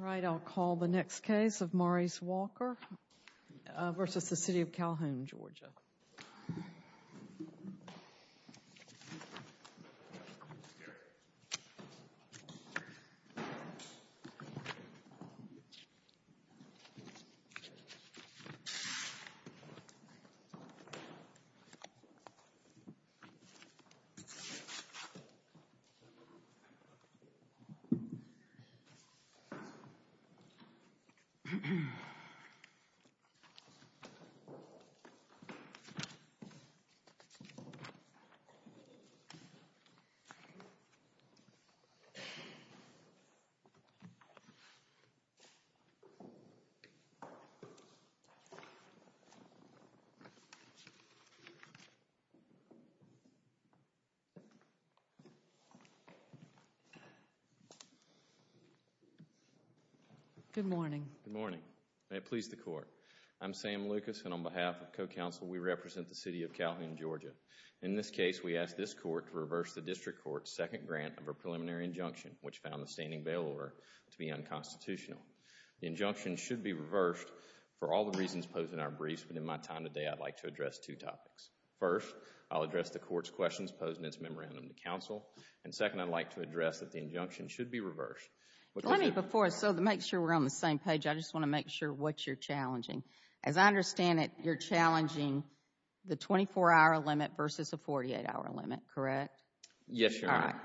All right, I'll call the next case of Maurice Walker v. City of Calhoun, GA All right, I'll call the next case of Maurice Walker v. City of Calhoun, GA Good morning. Good morning. May it please the Court. I'm Sam Lucas and on behalf of co-counsel, we represent the City of Calhoun, GA. In this case, we ask this Court to reverse the District Court's second grant of a preliminary injunction, which found the standing bail order to be unconstitutional. The injunction should be reversed for all the reasons posed in our briefs, but in my time today, I'd like to address two topics. First, I'll address the Court's questions posed in its memorandum to counsel, and second, I'd like to address that the injunction should be reversed. Let me before, so to make sure we're on the same page, I just want to make sure what you're challenging. As I understand it, you're challenging the 24-hour limit versus the 48-hour limit, correct? Yes, Your Honor. All right.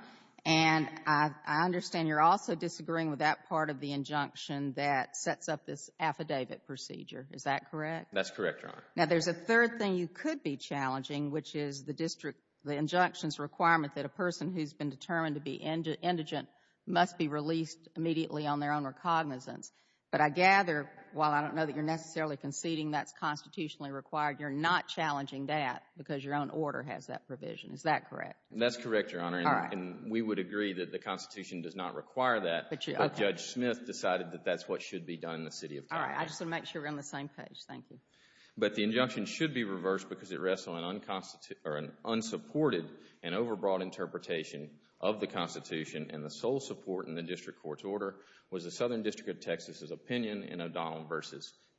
And I understand you're also disagreeing with that part of the injunction that sets up this affidavit procedure. Is that correct? That's correct, Your Honor. Now, there's a third thing you could be challenging, which is the injunction's requirement that a person who's been determined to be indigent must be released immediately on their own recognizance. But I gather, while I don't know that you're necessarily conceding that's constitutionally required, you're not challenging that because your own order has that provision. Is that correct? That's correct, Your Honor. All right. And we would agree that the Constitution does not require that, but Judge Smith decided that that's what should be done in the city of Texas. All right. I just want to make sure we're on the same page. Thank you. But the injunction should be reversed because it rests on an unsupported and overbroad interpretation of the Constitution, and the sole support in the district court's order was the Southern District of Texas' opinion in O'Donnell v.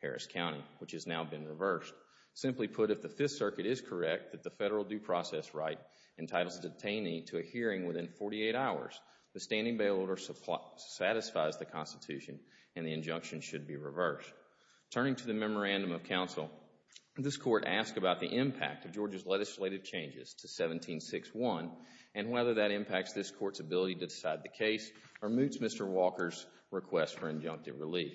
Harris County, which has now been reversed. Simply put, if the Fifth Circuit is correct that the federal due process right entitles a detainee to a hearing within 48 hours, the standing bail order satisfies the Constitution and the injunction should be reversed. Turning to the memorandum of counsel, this Court asked about the impact of Georgia's legislative changes to 1761 and whether that impacts this Court's ability to decide the case or moots Mr. Walker's request for injunctive relief.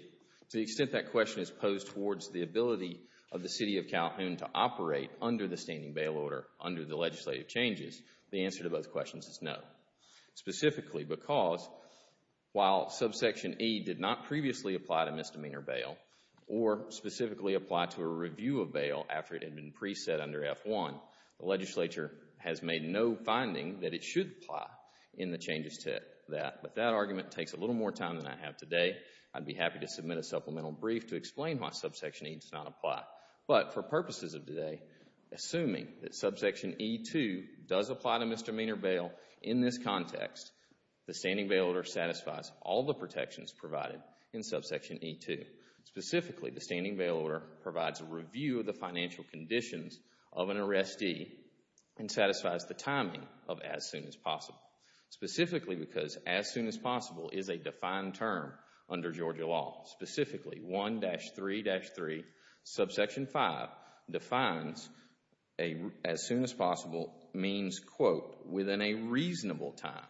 To the extent that question is posed towards the ability of the city of Calhoun to operate under the standing bail order under the legislative changes, the answer to both questions is no, specifically because while subsection E did not previously apply to misdemeanor bail or specifically apply to a review of bail after it had been preset under F-1, the legislature has made no finding that it should apply in the changes to that. But that argument takes a little more time than I have today. I'd be happy to submit a supplemental brief to explain why subsection E does not apply. But for purposes of today, assuming that subsection E-2 does apply to misdemeanor bail in this context, the standing bail order satisfies all the protections provided in subsection E-2. Specifically, the standing bail order provides a review of the financial conditions of an arrestee Specifically, because as soon as possible is a defined term under Georgia law. Specifically, 1-3-3, subsection 5 defines as soon as possible means, quote, within a reasonable time,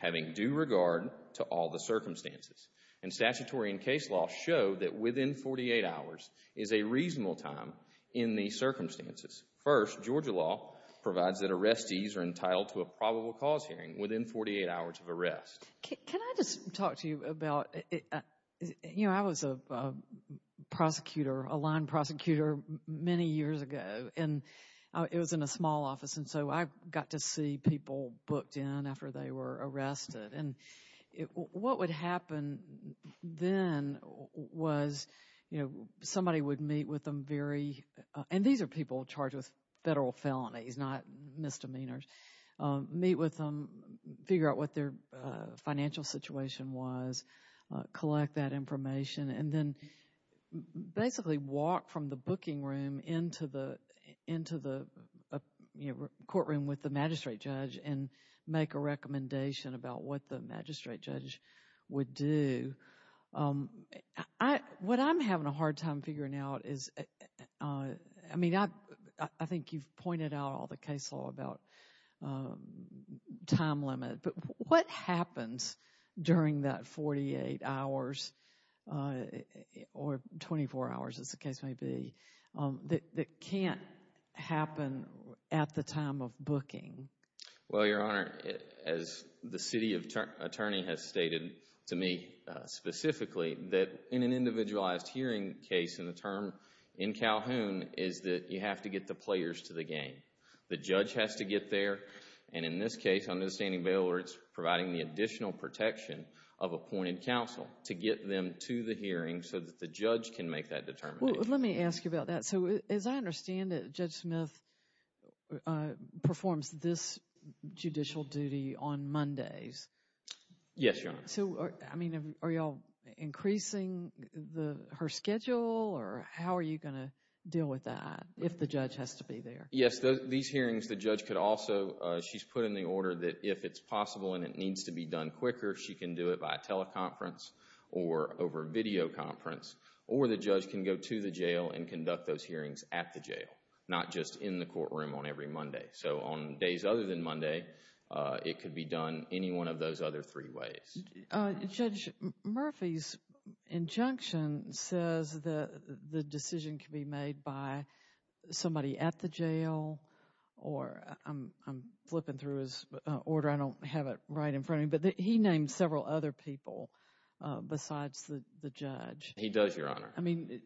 having due regard to all the circumstances. And statutory and case law show that within 48 hours is a reasonable time in these circumstances. First, Georgia law provides that arrestees are entitled to a probable cause hearing within 48 hours of arrest. Can I just talk to you about, you know, I was a prosecutor, a line prosecutor many years ago, and it was in a small office, and so I got to see people booked in after they were arrested. And what would happen then was, you know, somebody would meet with them very, and these are people charged with federal felonies, not misdemeanors, meet with them, figure out what their financial situation was, collect that information, and then basically walk from the booking room into the courtroom with the magistrate judge and make a recommendation about what the magistrate judge would do. What I'm having a hard time figuring out is, I mean, I think you've pointed out all the case law about time limit, but what happens during that 48 hours or 24 hours, as the case may be, that can't happen at the time of booking? Well, Your Honor, as the city attorney has stated to me specifically, that in an individualized hearing case in the term in Calhoun is that you have to get the players to the game. The judge has to get there, and in this case, under the standing bail words, providing the additional protection of appointed counsel to get them to the hearing so that the judge can make that determination. Well, let me ask you about that. So, as I understand it, Judge Smith performs this judicial duty on Mondays. Yes, Your Honor. So, I mean, are you all increasing her schedule, or how are you going to deal with that if the judge has to be there? Yes, these hearings, the judge could also, she's put in the order that if it's possible and it needs to be done quicker, she can do it by teleconference or over videoconference, or the judge can go to the jail and conduct those hearings at the jail, not just in the courtroom on every Monday. So, on days other than Monday, it could be done any one of those other three ways. Judge Murphy's injunction says that the decision can be made by somebody at the jail, or I'm flipping through his order, I don't have it right in front of me, but he named several other people besides the judge. He does, Your Honor. I mean,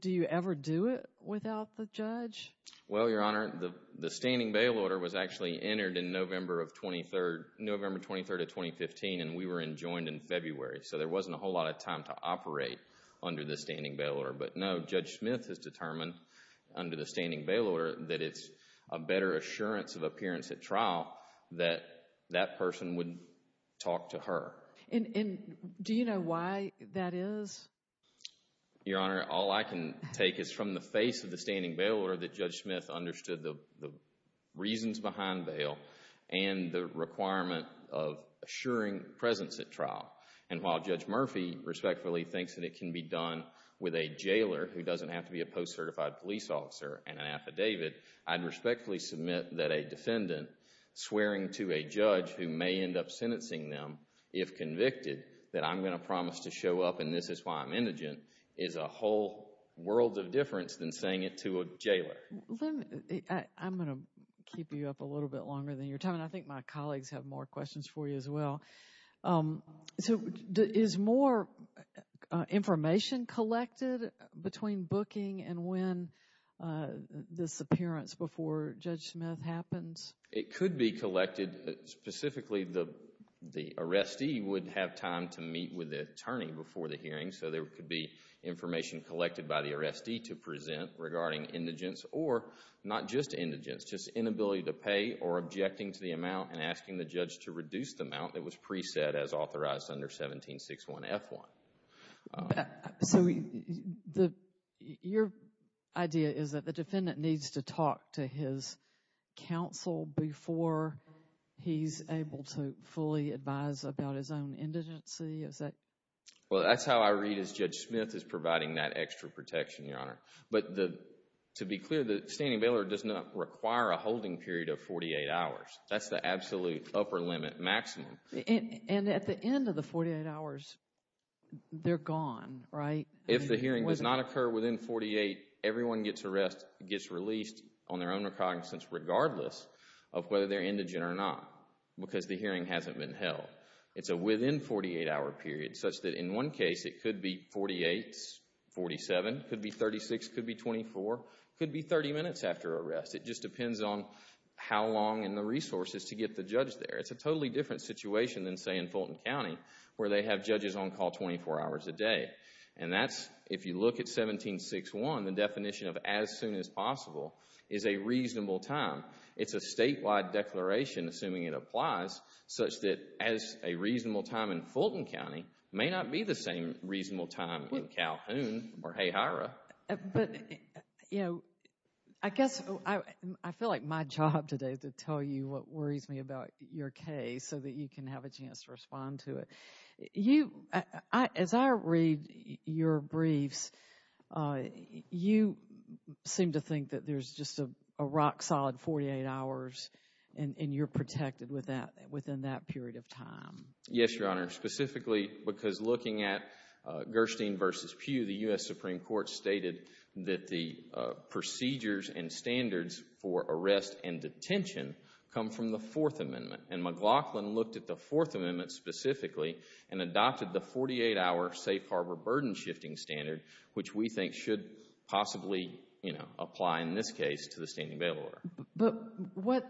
do you ever do it without the judge? Well, Your Honor, the standing bail order was actually entered in November 23rd of 2015, and we were enjoined in February, so there wasn't a whole lot of time to operate under the standing bail order. But now Judge Smith has determined, under the standing bail order, that it's a better assurance of appearance at trial that that person would talk to her. And do you know why that is? Your Honor, all I can take is from the face of the standing bail order that Judge Smith understood the reasons behind bail and the requirement of assuring presence at trial. And while Judge Murphy respectfully thinks that it can be done with a jailer, who doesn't have to be a post-certified police officer and an affidavit, I'd respectfully submit that a defendant swearing to a judge who may end up sentencing them, if convicted, that I'm going to promise to show up and this is why I'm indigent, is a whole world of difference than saying it to a jailer. I'm going to keep you up a little bit longer than you're telling. I think my colleagues have more questions for you as well. So is more information collected between booking and when this appearance before Judge Smith happens? It could be collected. Specifically, the arrestee would have time to meet with the attorney before the hearing, so there could be information collected by the arrestee to present regarding indigence or not just indigence, just inability to pay or objecting to the amount and asking the judge to reduce the amount that was preset as authorized under 1761F1. So your idea is that the defendant needs to talk to his counsel before he's able to fully advise about his own indigency? Well, that's how I read it as Judge Smith is providing that extra protection, Your Honor. But to be clear, the standing bailer does not require a holding period of 48 hours. That's the absolute upper limit, maximum. And at the end of the 48 hours, they're gone, right? If the hearing does not occur within 48, everyone gets released on their own recognizance regardless of whether they're indigent or not because the hearing hasn't been held. It's a within 48-hour period such that in one case it could be 48, 47, could be 36, could be 24, could be 30 minutes after arrest. It just depends on how long in the resources to get the judge there. It's a totally different situation than, say, in Fulton County where they have judges on call 24 hours a day. And that's, if you look at 1761, the definition of as soon as possible is a reasonable time. It's a statewide declaration, assuming it applies, such that as a reasonable time in Fulton County may not be the same reasonable time in Calhoun or Hayhira. But, you know, I guess I feel like my job today is to tell you what worries me about your case so that you can have a chance to respond to it. As I read your briefs, you seem to think that there's just a rock-solid 48 hours and you're protected within that period of time. Yes, Your Honor, specifically because looking at Gerstein v. Pew, the U.S. Supreme Court stated that the procedures and standards for arrest and detention come from the Fourth Amendment. And McLaughlin looked at the Fourth Amendment specifically and adopted the 48-hour safe harbor burden shifting standard, which we think should possibly, you know, apply in this case to the standing bail order. But what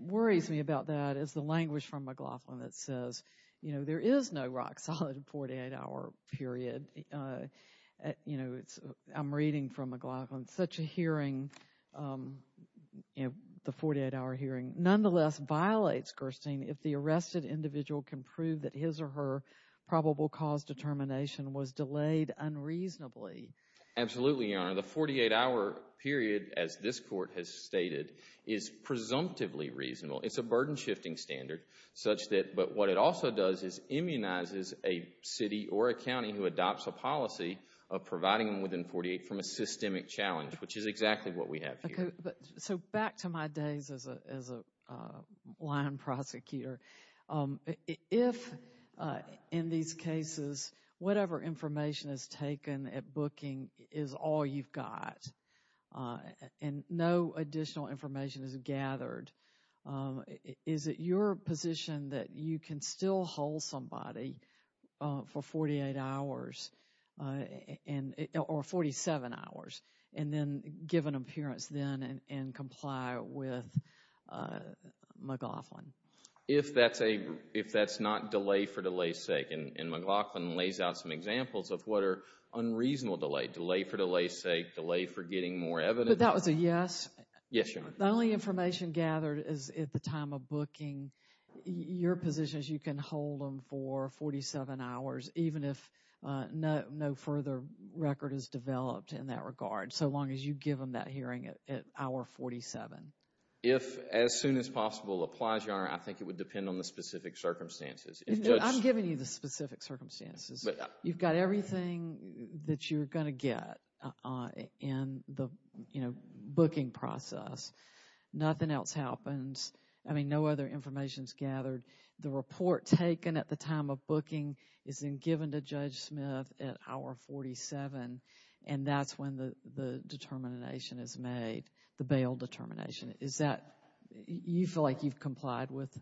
worries me about that is the language from McLaughlin that says, you know, there is no rock-solid 48-hour period. You know, I'm reading from McLaughlin, such a hearing, you know, the 48-hour hearing, nonetheless violates Gerstein if the arrested individual can prove that his or her probable cause determination was delayed unreasonably. Absolutely, Your Honor. The 48-hour period, as this Court has stated, is presumptively reasonable. It's a burden shifting standard, but what it also does is immunizes a city or a county who adopts a policy of providing them within 48 from a systemic challenge, which is exactly what we have here. So back to my days as a line prosecutor. If, in these cases, whatever information is taken at booking is all you've got and no additional information is gathered, is it your position that you can still hold somebody for 48 hours or 47 hours and then give an appearance then and comply with McLaughlin? If that's not delay for delay's sake, and McLaughlin lays out some examples of what are unreasonable delay, delay for delay's sake, delay for getting more evidence. But that was a yes? Yes, Your Honor. The only information gathered is at the time of booking. Your position is you can hold them for 47 hours, even if no further record is developed in that regard, so long as you give them that hearing at hour 47? If as soon as possible applies, Your Honor, I think it would depend on the specific circumstances. I'm giving you the specific circumstances. You've got everything that you're going to get in the booking process. Nothing else happens. I mean, no other information is gathered. The report taken at the time of booking is then given to Judge Smith at hour 47, and that's when the determination is made, the bail determination. Is that, you feel like you've complied with?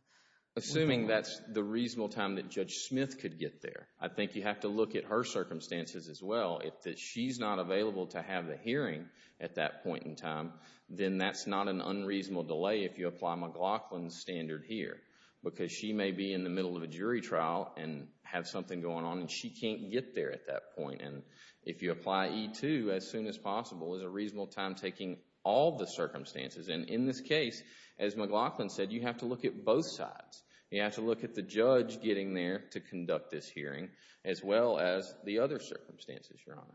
Assuming that's the reasonable time that Judge Smith could get there. I think you have to look at her circumstances as well. If she's not available to have the hearing at that point in time, then that's not an unreasonable delay if you apply McLaughlin's standard here, because she may be in the middle of a jury trial and have something going on, and she can't get there at that point. And if you apply E-2 as soon as possible, is a reasonable time taking all the circumstances? And in this case, as McLaughlin said, you have to look at both sides. You have to look at the judge getting there to conduct this hearing as well as the other circumstances, Your Honor.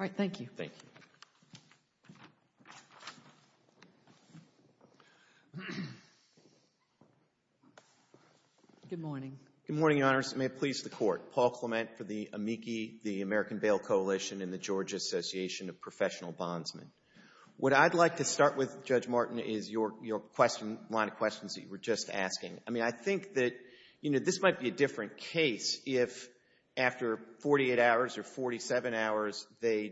All right, thank you. Thank you. Good morning. Good morning, Your Honors. May it please the Court, Paul Clement for the AMICI, the American Bail Coalition and the Georgia Association of Professional Bondsmen. What I'd like to start with, Judge Martin, is your line of questions that you were just asking. I mean, I think that, you know, this might be a different case if after 48 hours or 47 hours the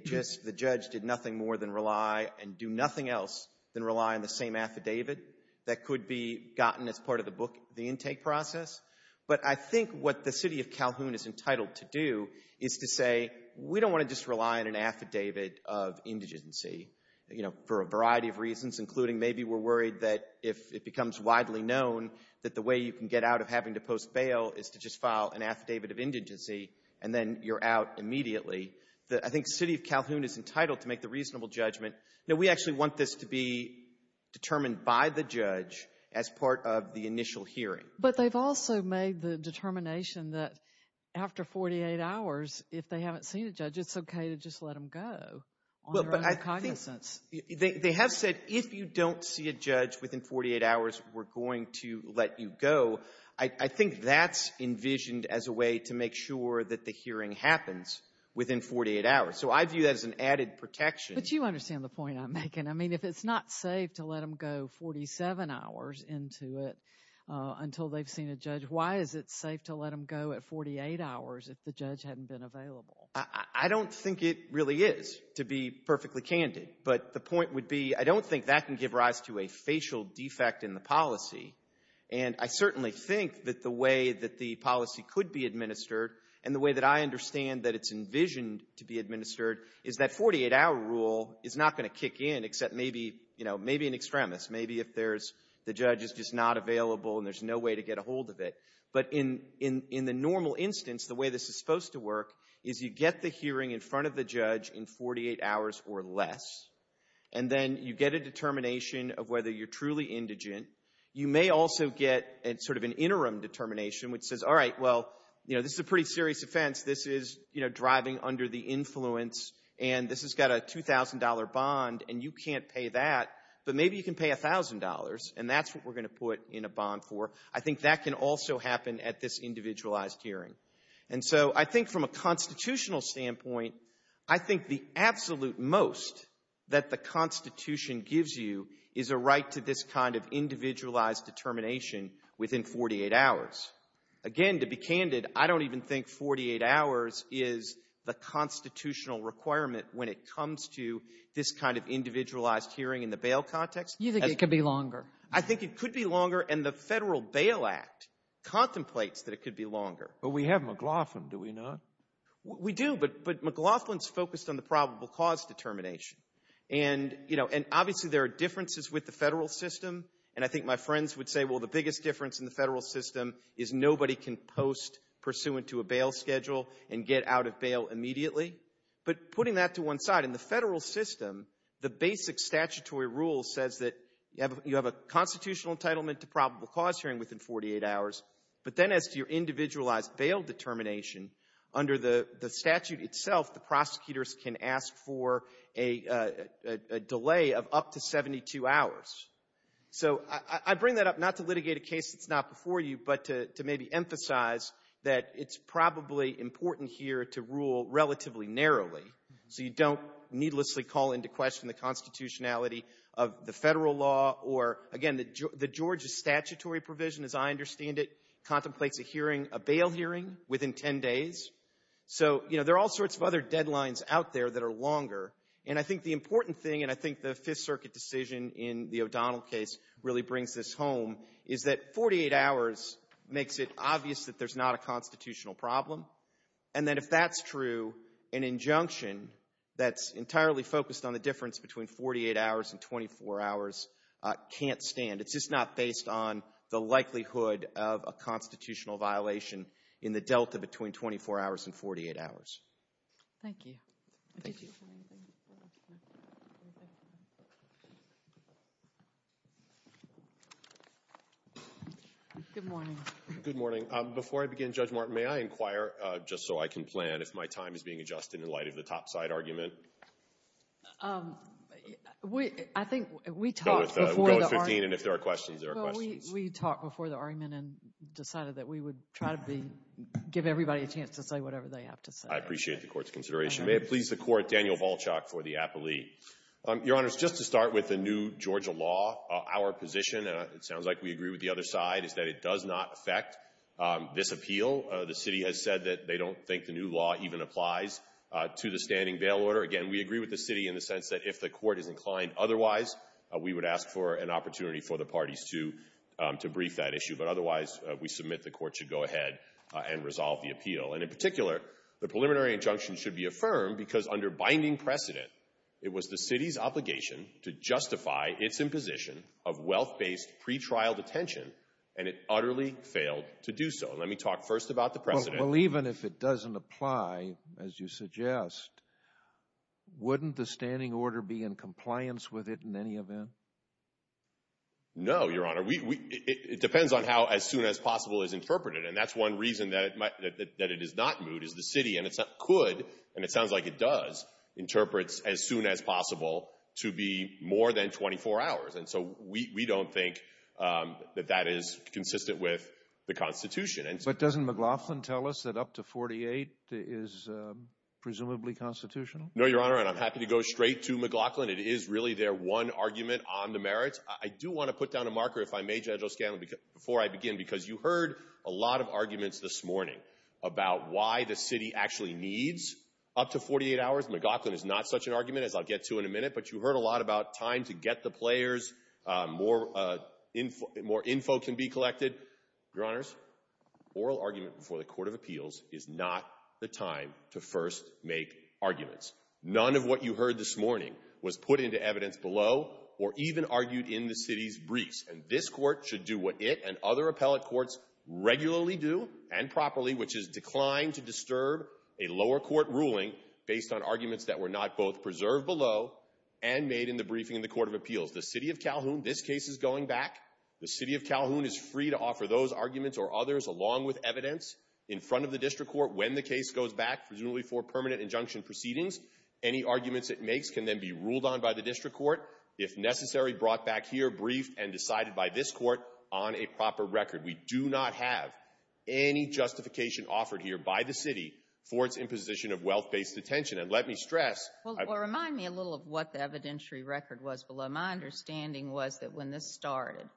judge did nothing more than rely and do nothing else than rely on the same affidavit that could be gotten as part of the intake process. But I think what the City of Calhoun is entitled to do is to say, we don't want to just rely on an affidavit of indigency, you know, for a variety of reasons, including maybe we're worried that if it becomes widely known that the way you can get out of having to post bail is to just file an affidavit of indigency and then you're out immediately. I think the City of Calhoun is entitled to make the reasonable judgment that we actually want this to be determined by the judge as part of the initial hearing. But they've also made the determination that after 48 hours, if they haven't seen a judge, it's okay to just let them go on their own cognizance. They have said, if you don't see a judge within 48 hours, we're going to let you go. I think that's envisioned as a way to make sure that the hearing happens within 48 hours. So I view that as an added protection. But you understand the point I'm making. I mean, if it's not safe to let them go 47 hours into it until they've seen a judge, why is it safe to let them go at 48 hours if the judge hadn't been available? I don't think it really is, to be perfectly candid. But the point would be I don't think that can give rise to a facial defect in the policy. And I certainly think that the way that the policy could be administered and the way that I understand that it's envisioned to be administered is that 48-hour rule is not going to kick in except maybe an extremist, maybe if the judge is just not available and there's no way to get a hold of it. But in the normal instance, the way this is supposed to work is you get the hearing in front of the judge in 48 hours or less, and then you get a determination of whether you're truly indigent. You may also get sort of an interim determination which says, all right, well, this is a pretty serious offense. This is driving under the influence, and this has got a $2,000 bond, and you can't pay that, but maybe you can pay $1,000, and that's what we're going to put in a bond for. I think that can also happen at this individualized hearing. And so I think from a constitutional standpoint, I think the absolute most that the Constitution gives you is a right to this kind of individualized determination within 48 hours. Again, to be candid, I don't even think 48 hours is the constitutional requirement when it comes to this kind of individualized hearing in the bail context. You think it could be longer? I think it could be longer, and the Federal Bail Act contemplates that it could be longer. But we have McLaughlin, do we not? We do, but McLaughlin's focused on the probable cause determination. And obviously there are differences with the federal system, and I think my friends would say, well, the biggest difference in the federal system is nobody can post pursuant to a bail schedule and get out of bail immediately. But putting that to one side, in the federal system, the basic statutory rule says that you have a constitutional entitlement to probable cause hearing within 48 hours, but then as to your individualized bail determination, under the statute itself the prosecutors can ask for a delay of up to 72 hours. So I bring that up not to litigate a case that's not before you, but to maybe emphasize that it's probably important here to rule relatively narrowly so you don't needlessly call into question the constitutionality of the federal law or, again, the Georgia statutory provision, as I understand it, contemplates a hearing, a bail hearing, within 10 days. So there are all sorts of other deadlines out there that are longer, and I think the important thing, and I think the Fifth Circuit decision in the O'Donnell case really brings this home, is that 48 hours makes it obvious that there's not a constitutional problem, and then if that's true, an injunction that's entirely focused on the difference between 48 hours and 24 hours can't stand. It's just not based on the likelihood of a constitutional violation in the delta between 24 hours and 48 hours. Thank you. Good morning. Good morning. Before I begin, Judge Martin, may I inquire, just so I can plan, if my time is being adjusted in light of the topside argument? I think we talked before the argument. Go with 15, and if there are questions, there are questions. We talked before the argument and decided that we would try to give everybody a chance to say whatever they have to say. I appreciate the court's consideration. May it please the court, Daniel Volchok for the appellee. Your Honors, just to start with the new Georgia law, our position, and it sounds like we agree with the other side, is that it does not affect this appeal. The city has said that they don't think the new law even applies to the standing bail order. Again, we agree with the city in the sense that if the court is inclined otherwise, we would ask for an opportunity for the parties to brief that issue. But otherwise, we submit the court should go ahead and resolve the appeal. In particular, the preliminary injunction should be affirmed because under binding precedent, it was the city's obligation to justify its imposition of wealth-based pretrial detention, and it utterly failed to do so. Let me talk first about the precedent. Well, even if it doesn't apply, as you suggest, wouldn't the standing order be in compliance with it in any event? No, Your Honor. It depends on how as soon as possible is interpreted, and that's one reason that it is not moot is the city could, and it sounds like it does, interpret as soon as possible to be more than 24 hours, and so we don't think that that is consistent with the Constitution. But doesn't McLaughlin tell us that up to 48 is presumably constitutional? No, Your Honor, and I'm happy to go straight to McLaughlin. It is really their one argument on the merits. I do want to put down a marker, if I may, Judge O'Scanlan, before I begin, because you heard a lot of arguments this morning about why the city actually needs up to 48 hours. McLaughlin is not such an argument, as I'll get to in a minute, but you heard a lot about time to get the players, more info can be collected. Your Honors, oral argument before the Court of Appeals is not the time to first make arguments. None of what you heard this morning was put into evidence below or even argued in the city's briefs, and this Court should do what it and other appellate courts regularly do and properly, which is decline to disturb a lower court ruling based on arguments that were not both preserved below and made in the briefing in the Court of Appeals. The city of Calhoun, this case is going back. The city of Calhoun is free to offer those arguments or others along with evidence in front of the district court when the case goes back, presumably for permanent injunction proceedings. Any arguments it makes can then be ruled on by the district court. If necessary, brought back here, briefed, and decided by this court on a proper record. We do not have any justification offered here by the city for its imposition of wealth-based detention. And let me stress— Well, remind me a little of what the evidentiary record was below. My understanding was that when this started,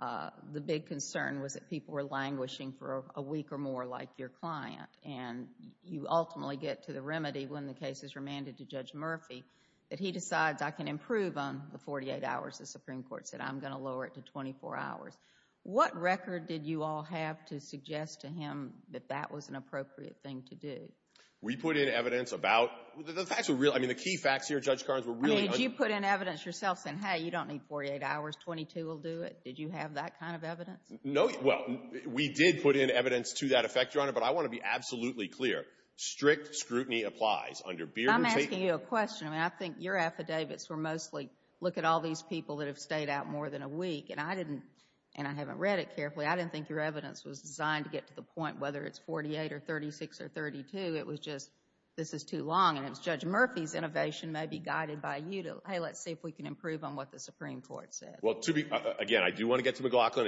the big concern was that people were languishing for a week or more like your client, and you ultimately get to the remedy when the case is remanded to Judge Murphy that he decides, I can improve on the 48 hours. The Supreme Court said, I'm going to lower it to 24 hours. What record did you all have to suggest to him that that was an appropriate thing to do? We put in evidence about—the facts were real. I mean, the key facts here, Judge Carnes, were really— I mean, did you put in evidence yourself saying, hey, you don't need 48 hours, 22 will do it? Did you have that kind of evidence? No—well, we did put in evidence to that effect, Your Honor, but I want to be absolutely clear. Strict scrutiny applies. I'm asking you a question. I mean, I think your affidavits were mostly, look at all these people that have stayed out more than a week, and I didn't—and I haven't read it carefully. I didn't think your evidence was designed to get to the point whether it's 48 or 36 or 32. It was just, this is too long, and it's Judge Murphy's innovation may be guided by you to, hey, let's see if we can improve on what the Supreme Court said. Well, to be—again, I do want to get to McLaughlin.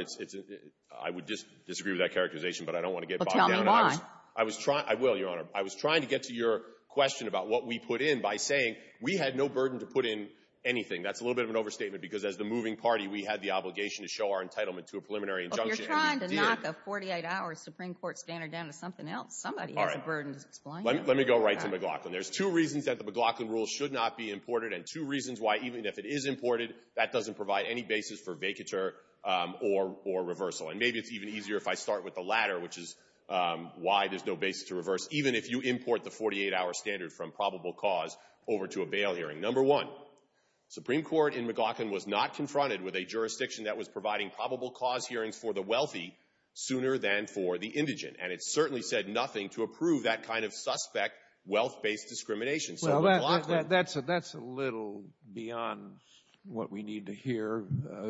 I would disagree with that characterization, but I don't want to get bogged down. Well, tell me why. I was trying—I will, Your Honor. I was trying to get to your question about what we put in by saying we had no burden to put in anything. That's a little bit of an overstatement, because as the moving party, we had the obligation to show our entitlement to a preliminary injunction, and we did. Well, if you're trying to knock a 48-hour Supreme Court standard down to something else, somebody has a burden to explain. All right. Let me go right to McLaughlin. There's two reasons that the McLaughlin rule should not be imported and two reasons why, even if it is imported, that doesn't provide any basis for vacatur or reversal. And maybe it's even easier if I start with the latter, which is why there's no basis to reverse, even if you import the 48-hour standard from probable cause over to a bail hearing. Number one, Supreme Court in McLaughlin was not confronted with a jurisdiction that was providing probable cause hearings for the wealthy sooner than for the indigent. And it certainly said nothing to approve that kind of suspect wealth-based discrimination. Well, that's a little beyond what we need to hear.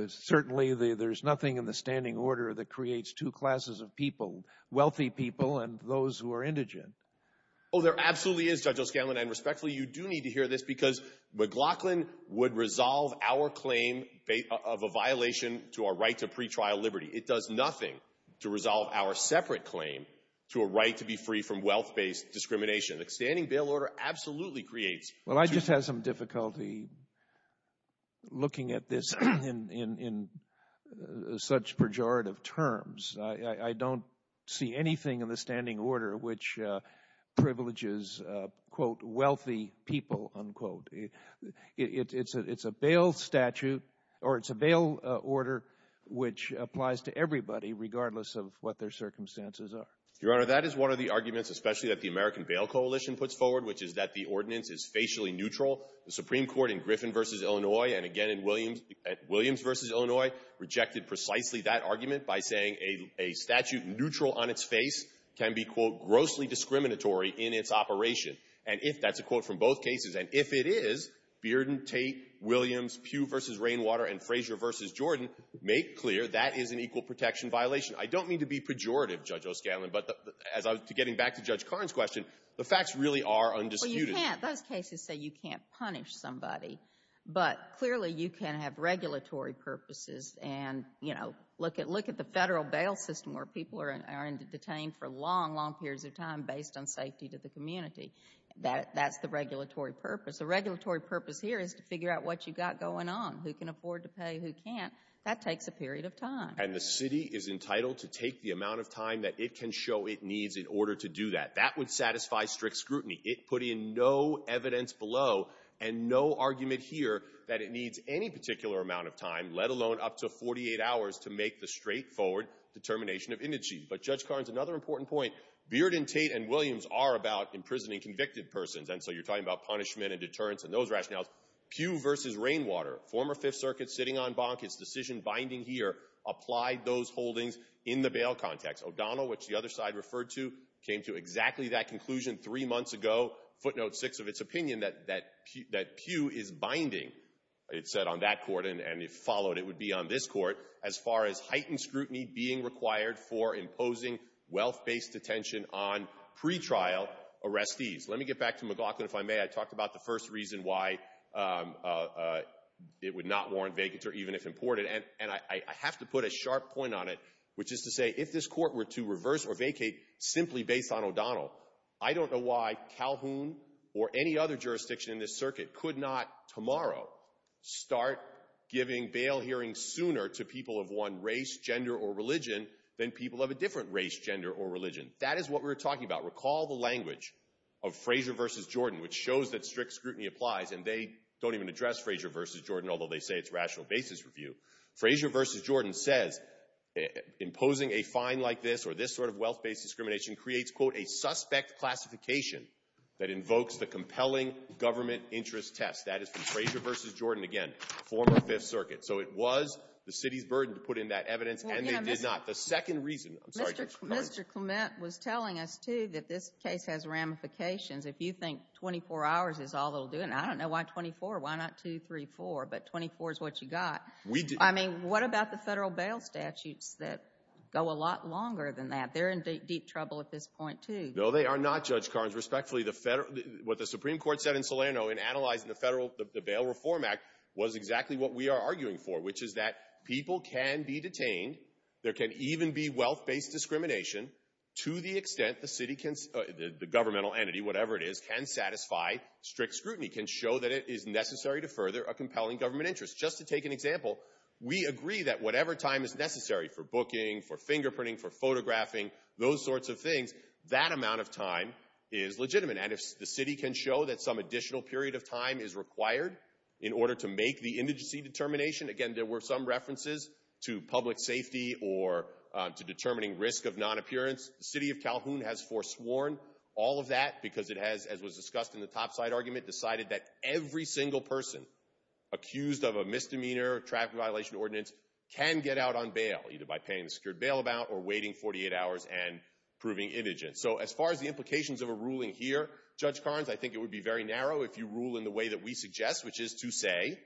Certainly, there's nothing in the standing order that creates two classes of people, wealthy people and those who are indigent. Oh, there absolutely is, Judge O'Scanlan, and respectfully, you do need to hear this because McLaughlin would resolve our claim of a violation to our right to pretrial liberty. It does nothing to resolve our separate claim to a right to be free from wealth-based discrimination. The standing bail order absolutely creates two— Well, I just have some difficulty looking at this in such pejorative terms. I don't see anything in the standing order which privileges, quote, wealthy people, unquote. It's a bail order which applies to everybody regardless of what their circumstances are. Your Honor, that is one of the arguments especially that the American Bail Coalition puts forward, which is that the ordinance is facially neutral. The Supreme Court in Griffin v. Illinois and again in Williams v. Illinois rejected precisely that argument by saying a statute neutral on its face can be, quote, grossly discriminatory in its operation. And that's a quote from both cases. And if it is, Bearden, Tate, Williams, Pugh v. Rainwater and Frazier v. Jordan make clear that is an equal protection violation. I don't mean to be pejorative, Judge O'Scanlan, but getting back to Judge Karn's question, the facts really are undisputed. Well, you can't—those cases say you can't punish somebody, but clearly you can have regulatory purposes and, you know, look at the federal bail system where people are detained for long, long periods of time based on safety to the community. That's the regulatory purpose. The regulatory purpose here is to figure out what you've got going on, who can afford to pay, who can't. That takes a period of time. And the city is entitled to take the amount of time that it can show it needs in order to do that. That would satisfy strict scrutiny. It put in no evidence below and no argument here that it needs any particular amount of time, let alone up to 48 hours to make the straightforward determination of indigent. But Judge Karn's another important point. Bearden, Tate, and Williams are about imprisoning convicted persons, and so you're talking about punishment and deterrence and those rationales. Pugh v. Rainwater, former Fifth Circuit sitting on bonk, its decision binding here applied those holdings in the bail context. O'Donnell, which the other side referred to, came to exactly that conclusion three months ago, footnote six of its opinion, that Pugh is binding, it said on that court, and if followed it would be on this court, as far as heightened scrutiny being required for imposing wealth-based detention on pretrial arrestees. Let me get back to McLaughlin, if I may. I talked about the first reason why it would not warrant vacancy even if imported, and I have to put a sharp point on it, which is to say, if this court were to reverse or vacate simply based on O'Donnell, I don't know why Calhoun or any other jurisdiction in this circuit could not tomorrow start giving bail hearings sooner to people of one race, gender, or religion than people of a different race, gender, or religion. That is what we're talking about. Recall the language of Frazier v. Jordan, which shows that strict scrutiny applies, and they don't even address Frazier v. Jordan, although they say it's rational basis review. Frazier v. Jordan says imposing a fine like this or this sort of wealth-based discrimination creates, quote, a suspect classification that invokes the compelling government interest test. That is from Frazier v. Jordan, again, former Fifth Circuit. So it was the city's burden to put in that evidence, and they did not. The second reason, I'm sorry. Mr. Clement was telling us, too, that this case has ramifications. If you think 24 hours is all it will do, and I don't know why 24, why not 2, 3, 4, but 24 is what you got. I mean, what about the federal bail statutes that go a lot longer than that? They're in deep trouble at this point, too. No, they are not, Judge Carnes. Respectfully, what the Supreme Court said in Salerno in analyzing the bail reform act was exactly what we are arguing for, which is that people can be detained. There can even be wealth-based discrimination to the extent the governmental entity, whatever it is, can satisfy strict scrutiny, can show that it is necessary to further a compelling government interest. Just to take an example, we agree that whatever time is necessary for booking, for fingerprinting, for photographing, those sorts of things, that amount of time is legitimate. And if the city can show that some additional period of time is required in order to make the indigency determination, again, there were some references to public safety or to determining risk of non-appearance. The city of Calhoun has forsworn all of that because it has, as was discussed in the topside argument, decided that every single person accused of a misdemeanor or traffic violation ordinance can get out on bail, either by paying the secured bail amount or waiting 48 hours and proving indigent. So as far as the implications of a ruling here, Judge Carnes, I think it would be very narrow if you rule in the way that we suggest, which is to say,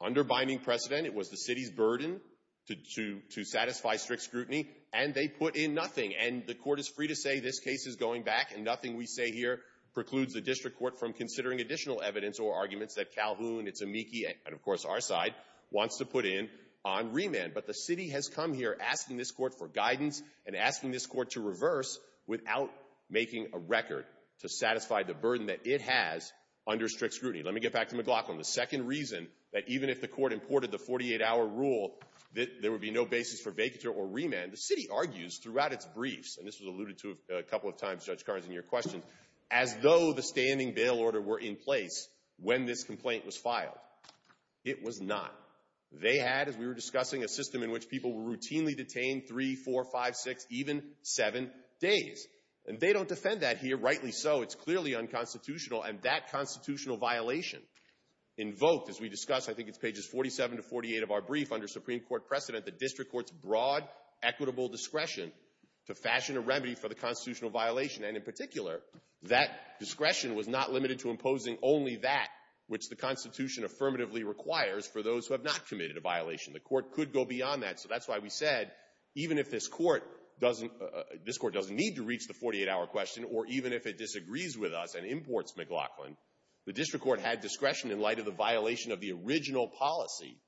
under binding precedent, it was the city's burden to satisfy strict scrutiny, and they put in nothing. And the court is free to say this case is going back, and nothing we say here precludes the district court from considering additional evidence or arguments that Calhoun, its amici, and, of course, our side, wants to put in on remand. But the city has come here asking this court for guidance and asking this court to reverse without making a record to satisfy the burden that it has under strict scrutiny. Let me get back to McLaughlin. The second reason that even if the court imported the 48-hour rule that there would be no basis for vacatur or remand, the city argues throughout its briefs, and this was alluded to a couple of times, Judge Carnes, in your questions, as though the standing bail order were in place when this complaint was filed. It was not. They had, as we were discussing, a system in which people were routinely detained 3, 4, 5, 6, even 7 days. And they don't defend that here, rightly so. It's clearly unconstitutional, and that constitutional violation invoked, as we discussed, I think it's pages 47 to 48 of our brief, under Supreme Court precedent, the district court's broad, equitable discretion to fashion a remedy for the constitutional violation. And in particular, that discretion was not limited to imposing only that which the Constitution affirmatively requires for those who have not committed a violation. The court could go beyond that. So that's why we said even if this court doesn't need to reach the 48-hour question or even if it disagrees with us and imports McLaughlin, the district court had discretion in light of the violation of the original policy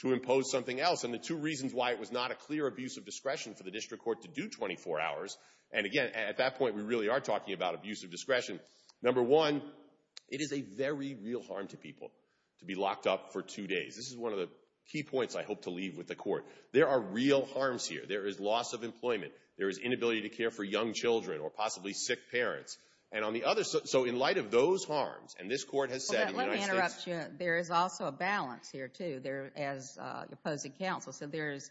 to impose something else. And the two reasons why it was not a clear abuse of discretion for the district court to do 24 hours, and again, at that point, we really are talking about abuse of discretion. Number one, it is a very real harm to people to be locked up for two days. This is one of the key points I hope to leave with the court. There are real harms here. There is loss of employment. There is inability to care for young children or possibly sick parents. And on the other side, so in light of those harms, and this court has said in the United States. Let me interrupt you. There is also a balance here, too, as opposing counsel. So there is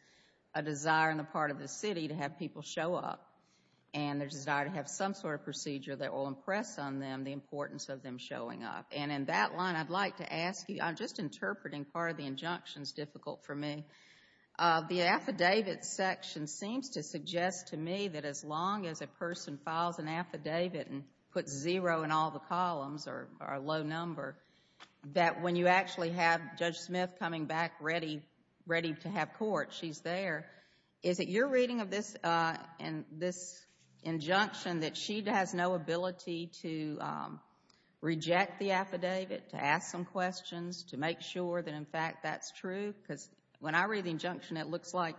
a desire on the part of the city to have people show up, and there's a desire to have some sort of procedure that will impress on them the importance of them showing up. And in that line, I'd like to ask you, I'm just interpreting part of the injunctions, difficult for me. The affidavit section seems to suggest to me that as long as a person files an affidavit and puts zero in all the columns or a low number, that when you actually have Judge Smith coming back ready to have court, she's there. Is it your reading of this injunction that she has no ability to reject the affidavit, to ask some questions, to make sure that, in fact, that's true? Because when I read the injunction, it looks like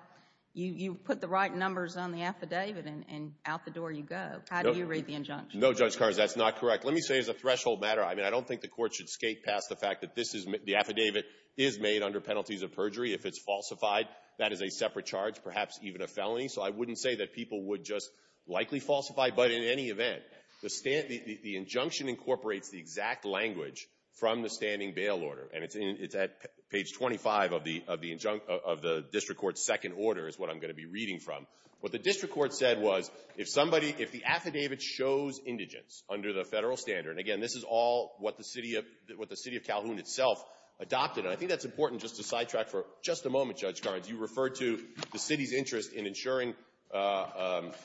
you put the right numbers on the affidavit, and out the door you go. How do you read the injunction? No, Judge Carrs, that's not correct. Let me say as a threshold matter, I mean, I don't think the court should skate past the fact that this is, the affidavit is made under penalties of perjury. If it's falsified, that is a separate charge, perhaps even a felony. So I wouldn't say that people would just likely falsify, but in any event, the injunction incorporates the exact language from the standing bail order, and it's at page 25 of the district court's second order is what I'm going to be reading from. What the district court said was if the affidavit shows indigence under the federal standard, and again, this is all what the city of Calhoun itself adopted, and I think that's important just to sidetrack for just a moment, Judge Carrs. You referred to the city's interest in ensuring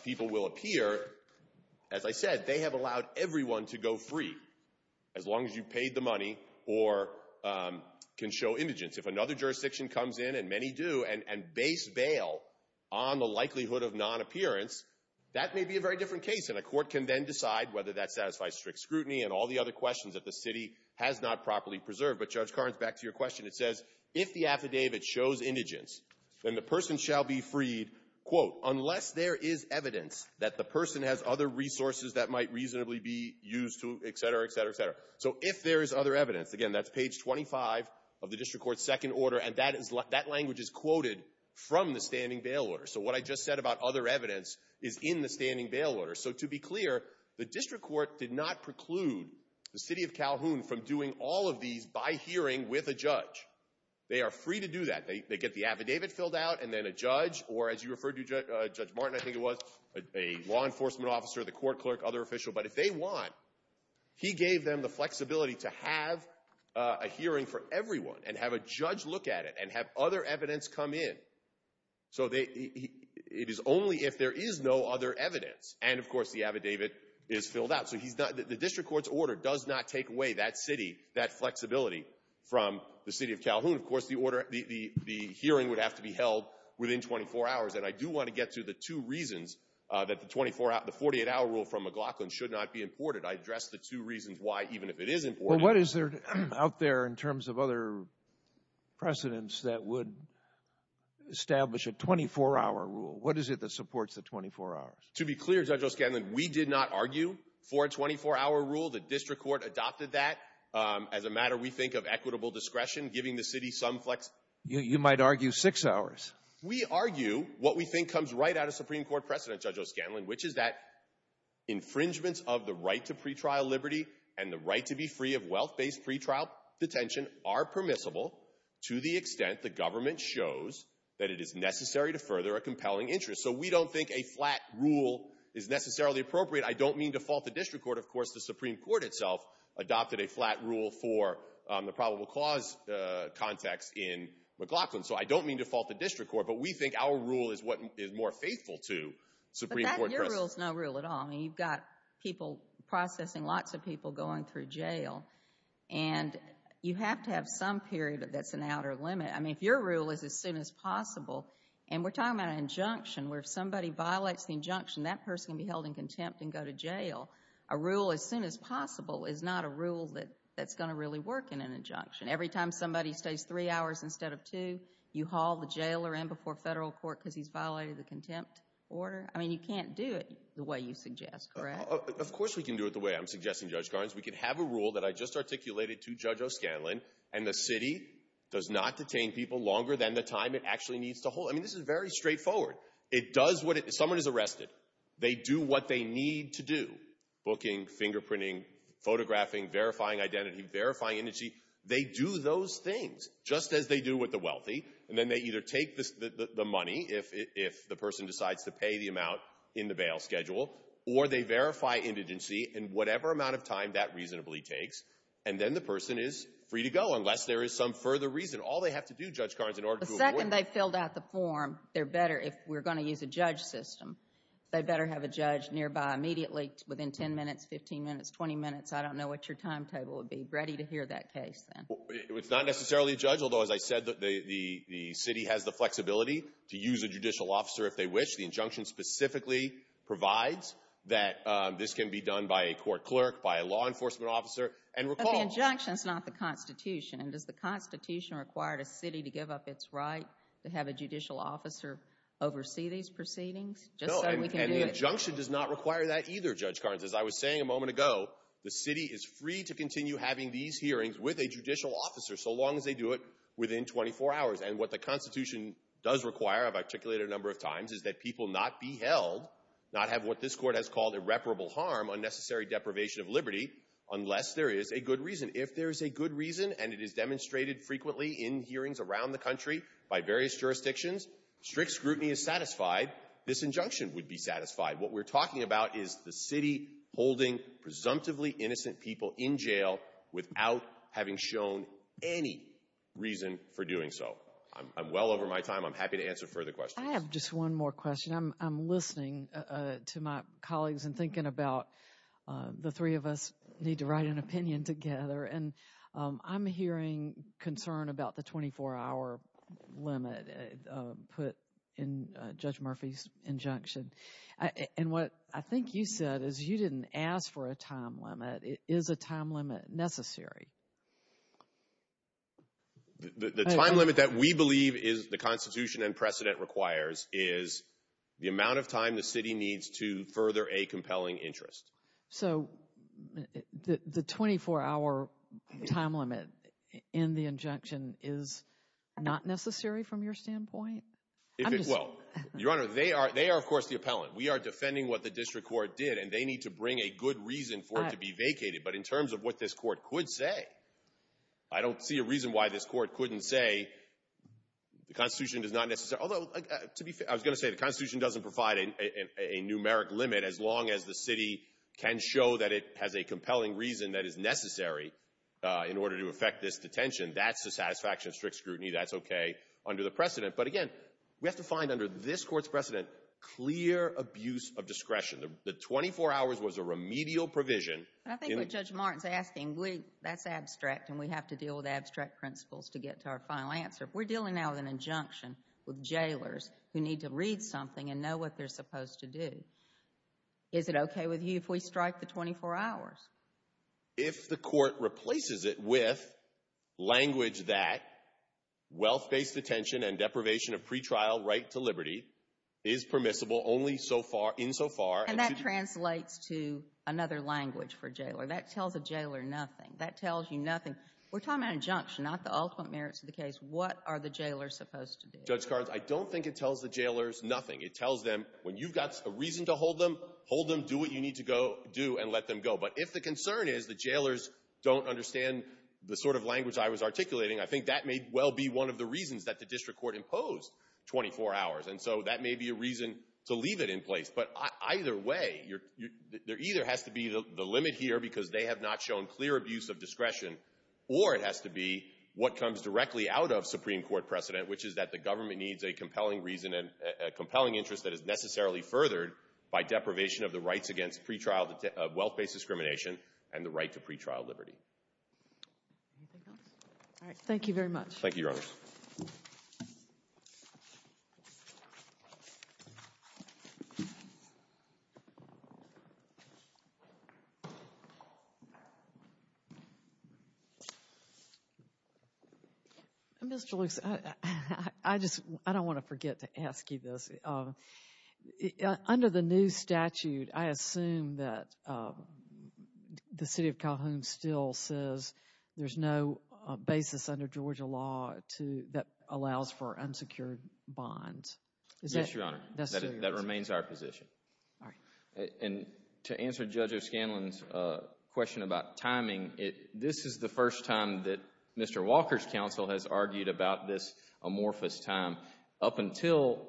people will appear. As I said, they have allowed everyone to go free as long as you paid the money or can show indigence. If another jurisdiction comes in, and many do, and base bail on the likelihood of non-appearance, that may be a very different case, and a court can then decide whether that satisfies strict scrutiny and all the other questions that the city has not properly preserved. But, Judge Carrs, back to your question, it says if the affidavit shows indigence, then the person shall be freed, quote, unless there is evidence that the person has other resources that might reasonably be used to, et cetera, et cetera, et cetera. So if there is other evidence, again, that's page 25 of the district court's second order, and that language is quoted from the standing bail order. So what I just said about other evidence is in the standing bail order. So to be clear, the district court did not preclude the city of Calhoun from doing all of these by hearing with a judge. They are free to do that. They get the affidavit filled out, and then a judge, or as you referred to, Judge Martin, I think it was, a law enforcement officer, the court clerk, other official. But if they want, he gave them the flexibility to have a hearing for everyone and have a judge look at it and have other evidence come in. So it is only if there is no other evidence. And, of course, the affidavit is filled out. So the district court's order does not take away that city, that flexibility from the city of Calhoun. Of course, the hearing would have to be held within 24 hours. And I do want to get to the two reasons that the 48-hour rule from McLaughlin should not be imported. I addressed the two reasons why, even if it is important. Well, what is out there in terms of other precedents that would establish a 24-hour rule? What is it that supports the 24 hours? To be clear, Judge O'Scanlan, we did not argue for a 24-hour rule. The district court adopted that as a matter, we think, of equitable discretion, giving the city some flexibility. You might argue six hours. We argue what we think comes right out of Supreme Court precedent, Judge O'Scanlan, which is that infringements of the right to pretrial liberty and the right to be free of wealth-based pretrial detention are permissible to the extent the government shows that it is necessary to further a compelling interest. So we don't think a flat rule is necessarily appropriate. I don't mean to fault the district court. Of course, the Supreme Court itself adopted a flat rule for the probable cause context in McLaughlin. So I don't mean to fault the district court. But we think our rule is what is more faithful to Supreme Court precedent. But your rule is no rule at all. I mean, you've got people processing, lots of people going through jail. And you have to have some period that's an outer limit. I mean, if your rule is as soon as possible, and we're talking about an injunction, where if somebody violates the injunction, that person can be held in contempt and go to jail. A rule as soon as possible is not a rule that's going to really work in an injunction. Every time somebody stays three hours instead of two, you haul the jailer in before federal court because he's violated the contempt order. I mean, you can't do it the way you suggest, correct? Of course we can do it the way I'm suggesting, Judge Garns. We can have a rule that I just articulated to Judge O'Scanlan, and the city does not detain people longer than the time it actually needs to hold. I mean, this is very straightforward. It does what it — if someone is arrested, they do what they need to do, booking, fingerprinting, photographing, verifying identity, verifying indigency. They do those things just as they do with the wealthy, and then they either take the money if the person decides to pay the amount in the bail schedule, or they verify indigency in whatever amount of time that reasonably takes, and then the person is free to go unless there is some further reason. The second they've filled out the form, they're better if we're going to use a judge system. They'd better have a judge nearby immediately, within 10 minutes, 15 minutes, 20 minutes. I don't know what your timetable would be. Ready to hear that case then. It's not necessarily a judge, although, as I said, the city has the flexibility to use a judicial officer if they wish. The injunction specifically provides that this can be done by a court clerk, by a law enforcement officer. But the injunction is not the Constitution. And does the Constitution require a city to give up its right to have a judicial officer oversee these proceedings? No, and the injunction does not require that either, Judge Carnes. As I was saying a moment ago, the city is free to continue having these hearings with a judicial officer so long as they do it within 24 hours. And what the Constitution does require, I've articulated a number of times, is that people not be held, not have what this court has called irreparable harm, unnecessary deprivation of liberty, unless there is a good reason. And it is demonstrated frequently in hearings around the country by various jurisdictions. Strict scrutiny is satisfied. This injunction would be satisfied. What we're talking about is the city holding presumptively innocent people in jail without having shown any reason for doing so. I'm well over my time. I'm happy to answer further questions. I have just one more question. I'm listening to my colleagues and thinking about the three of us need to write an opinion together. And I'm hearing concern about the 24-hour limit put in Judge Murphy's injunction. And what I think you said is you didn't ask for a time limit. Is a time limit necessary? The time limit that we believe the Constitution and precedent requires is the amount of time the city needs to further a compelling interest. So the 24-hour time limit in the injunction is not necessary from your standpoint? If it will. Your Honor, they are, of course, the appellant. We are defending what the district court did, and they need to bring a good reason for it to be vacated. But in terms of what this court could say, I don't see a reason why this court couldn't say the Constitution is not necessary. Although, to be fair, I was going to say the Constitution doesn't provide a numeric limit as long as the city can show that it has a compelling reason that is necessary in order to effect this detention. That's the satisfaction of strict scrutiny. That's okay under the precedent. But again, we have to find under this court's precedent clear abuse of discretion. The 24 hours was a remedial provision. I think what Judge Martin is asking, that's abstract, and we have to deal with abstract principles to get to our final answer. If we're dealing now with an injunction with jailers who need to read something and know what they're supposed to do, is it okay with you if we strike the 24 hours? If the court replaces it with language that wealth-based detention and deprivation of pretrial right to liberty is permissible only so far, insofar. And that translates to another language for a jailer. That tells a jailer nothing. That tells you nothing. We're talking about injunction, not the ultimate merits of the case. What are the jailers supposed to do? Judge Cards, I don't think it tells the jailers nothing. It tells them, when you've got a reason to hold them, hold them, do what you need to do, and let them go. But if the concern is the jailers don't understand the sort of language I was articulating, I think that may well be one of the reasons that the district court imposed 24 hours. And so that may be a reason to leave it in place. But either way, there either has to be the limit here because they have not shown clear abuse of discretion, or it has to be what comes directly out of Supreme Court precedent, which is that the government needs a compelling interest that is necessarily furthered by deprivation of the rights against wealth-based discrimination and the right to pretrial liberty. Anything else? All right. Thank you very much. Thank you, Your Honor. Thank you. Mr. Lewis, I don't want to forget to ask you this. Under the new statute, I assume that the city of Calhoun still says there's no basis under Georgia law that allows for unsecured bonds. Yes, Your Honor. That remains our position. And to answer Judge O'Scanlan's question about timing, this is the first time that Mr. Walker's counsel has argued about this amorphous time. Up until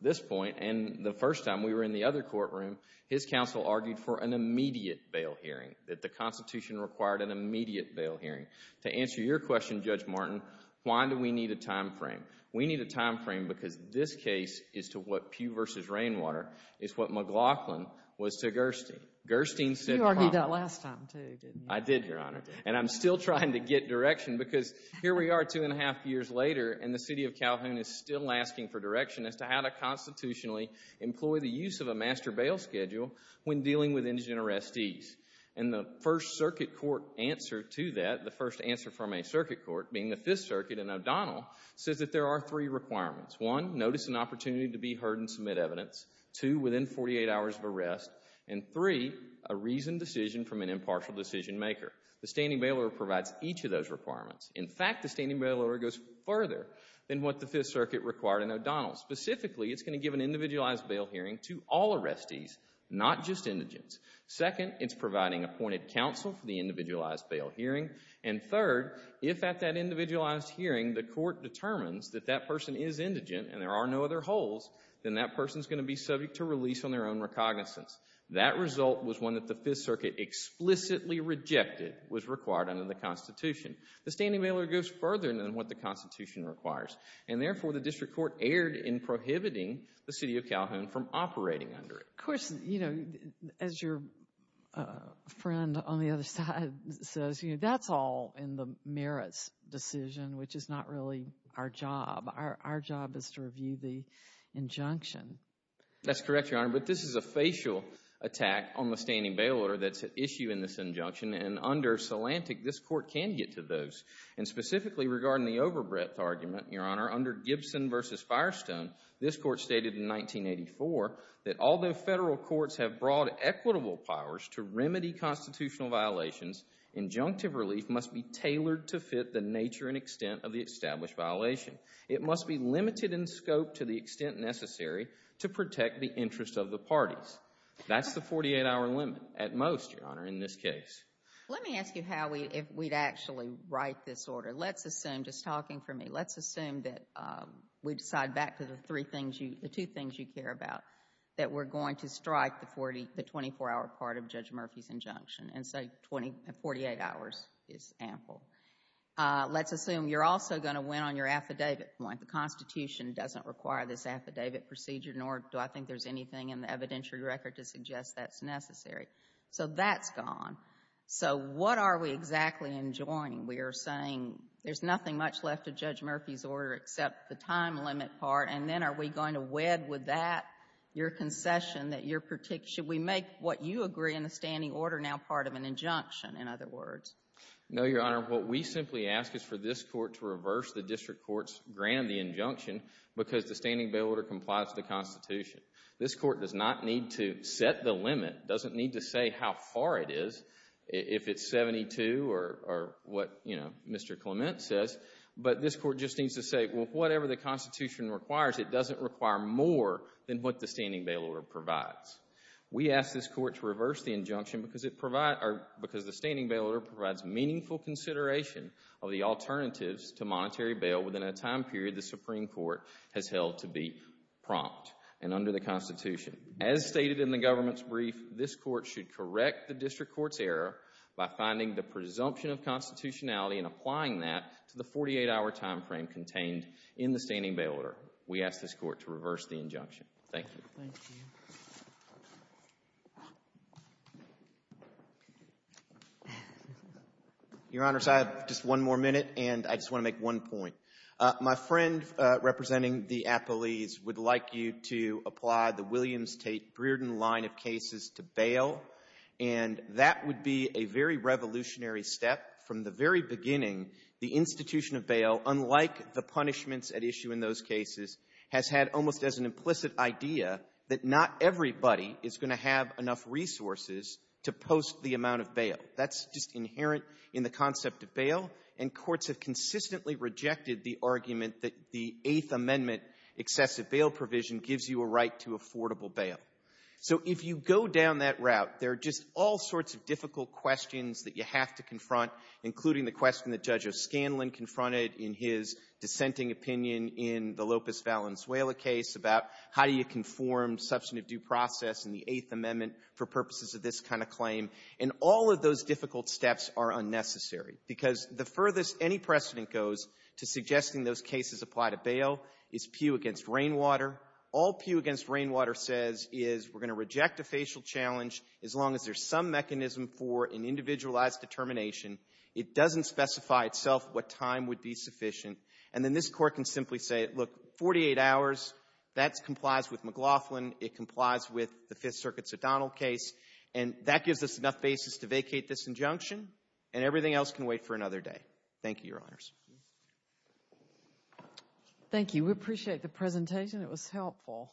this point and the first time we were in the other courtroom, his counsel argued for an immediate bail hearing, that the Constitution required an immediate bail hearing. To answer your question, Judge Martin, why do we need a time frame? We need a time frame because this case is to what Pew v. Rainwater, is what McLaughlin was to Gerstein. You argued that last time too, didn't you? I did, Your Honor. And I'm still trying to get direction because here we are two and a half years later and the city of Calhoun is still asking for direction as to how to constitutionally employ the use of a master bail schedule when dealing with indigent arrestees. And the first circuit court answer to that, the first answer from a circuit court, being the Fifth Circuit in O'Donnell, says that there are three requirements. One, notice and opportunity to be heard and submit evidence. Two, within 48 hours of arrest. And three, a reasoned decision from an impartial decision maker. The standing bail order provides each of those requirements. In fact, the standing bail order goes further than what the Fifth Circuit required in O'Donnell. Specifically, it's going to give an individualized bail hearing to all arrestees, not just indigents. Second, it's providing appointed counsel for the individualized bail hearing. And third, if at that individualized hearing the court determines that that person is indigent and there are no other holds, then that person is going to be subject to release on their own recognizance. That result was one that the Fifth Circuit explicitly rejected was required under the Constitution. The standing bail order goes further than what the Constitution requires. And therefore, the district court erred in prohibiting the city of Calhoun from operating under it. Of course, you know, as your friend on the other side says, you know, that's all in the merits decision, which is not really our job. Our job is to review the injunction. That's correct, Your Honor, but this is a facial attack on the standing bail order that's at issue in this injunction. And under Solantic, this court can get to those. And specifically regarding the overbreadth argument, Your Honor, under Gibson v. Firestone, this court stated in 1984 that although federal courts have broad equitable powers to remedy constitutional violations, injunctive relief must be tailored to fit the nature and extent of the established violation. It must be limited in scope to the extent necessary to protect the interests of the parties. That's the 48-hour limit at most, Your Honor, in this case. Let me ask you how we'd actually write this order. Let's assume, just talking for me, let's assume that we decide back to the two things you care about, that we're going to strike the 24-hour part of Judge Murphy's injunction, and say 48 hours is ample. Let's assume you're also going to win on your affidavit point. The Constitution doesn't require this affidavit procedure, nor do I think there's anything in the evidentiary record to suggest that's necessary. So that's gone. So what are we exactly enjoining? We are saying there's nothing much left of Judge Murphy's order except the time limit part, and then are we going to wed with that your concession that your particular, should we make what you agree in the standing order now part of an injunction, in other words? No, Your Honor. What we simply ask is for this court to reverse the district court's grant of the injunction because the standing bail order complies with the Constitution. This court does not need to set the limit, doesn't need to say how far it is, if it's 72 or what, you know, Mr. Clement says, but this court just needs to say, well, whatever the Constitution requires, it doesn't require more than what the standing bail order provides. We ask this court to reverse the injunction because the standing bail order provides meaningful consideration of the alternatives to monetary bail within a time period the Supreme Court has held to be prompt and under the Constitution. As stated in the government's brief, this court should correct the district court's error by finding the presumption of constitutionality and applying that to the 48-hour time frame contained in the standing bail order. We ask this court to reverse the injunction. Thank you. Thank you. Your Honors, I have just one more minute, and I just want to make one point. My friend representing the appellees would like you to apply the Williams-Tate-Brearden line of cases to bail, and that would be a very revolutionary step. From the very beginning, the institution of bail, unlike the punishments at issue in those cases, has had almost as an implicit idea that not everybody is going to have enough resources to post the amount of bail. That's just inherent in the concept of bail, and courts have consistently rejected the argument that the Eighth Amendment excessive bail provision gives you a right to affordable bail. So if you go down that route, there are just all sorts of difficult questions that you have to confront, including the question that Judge O'Scanlan confronted in his dissenting opinion in the Lopez-Valenzuela case about how do you conform substantive due process in the Eighth Amendment for purposes of this kind of claim. And all of those difficult steps are unnecessary because the furthest any precedent goes to suggesting those cases apply to bail is Pew v. Rainwater. All Pew v. Rainwater says is we're going to reject a facial challenge as long as there's some mechanism for an individualized determination. It doesn't specify itself what time would be sufficient. And then this Court can simply say, look, 48 hours. That complies with McLaughlin. It complies with the Fifth Circuit's O'Donnell case. And that gives us enough basis to vacate this injunction, and everything else can wait for another day. Thank you, Your Honors. Thank you. We appreciate the presentation. It was helpful. Thank you all.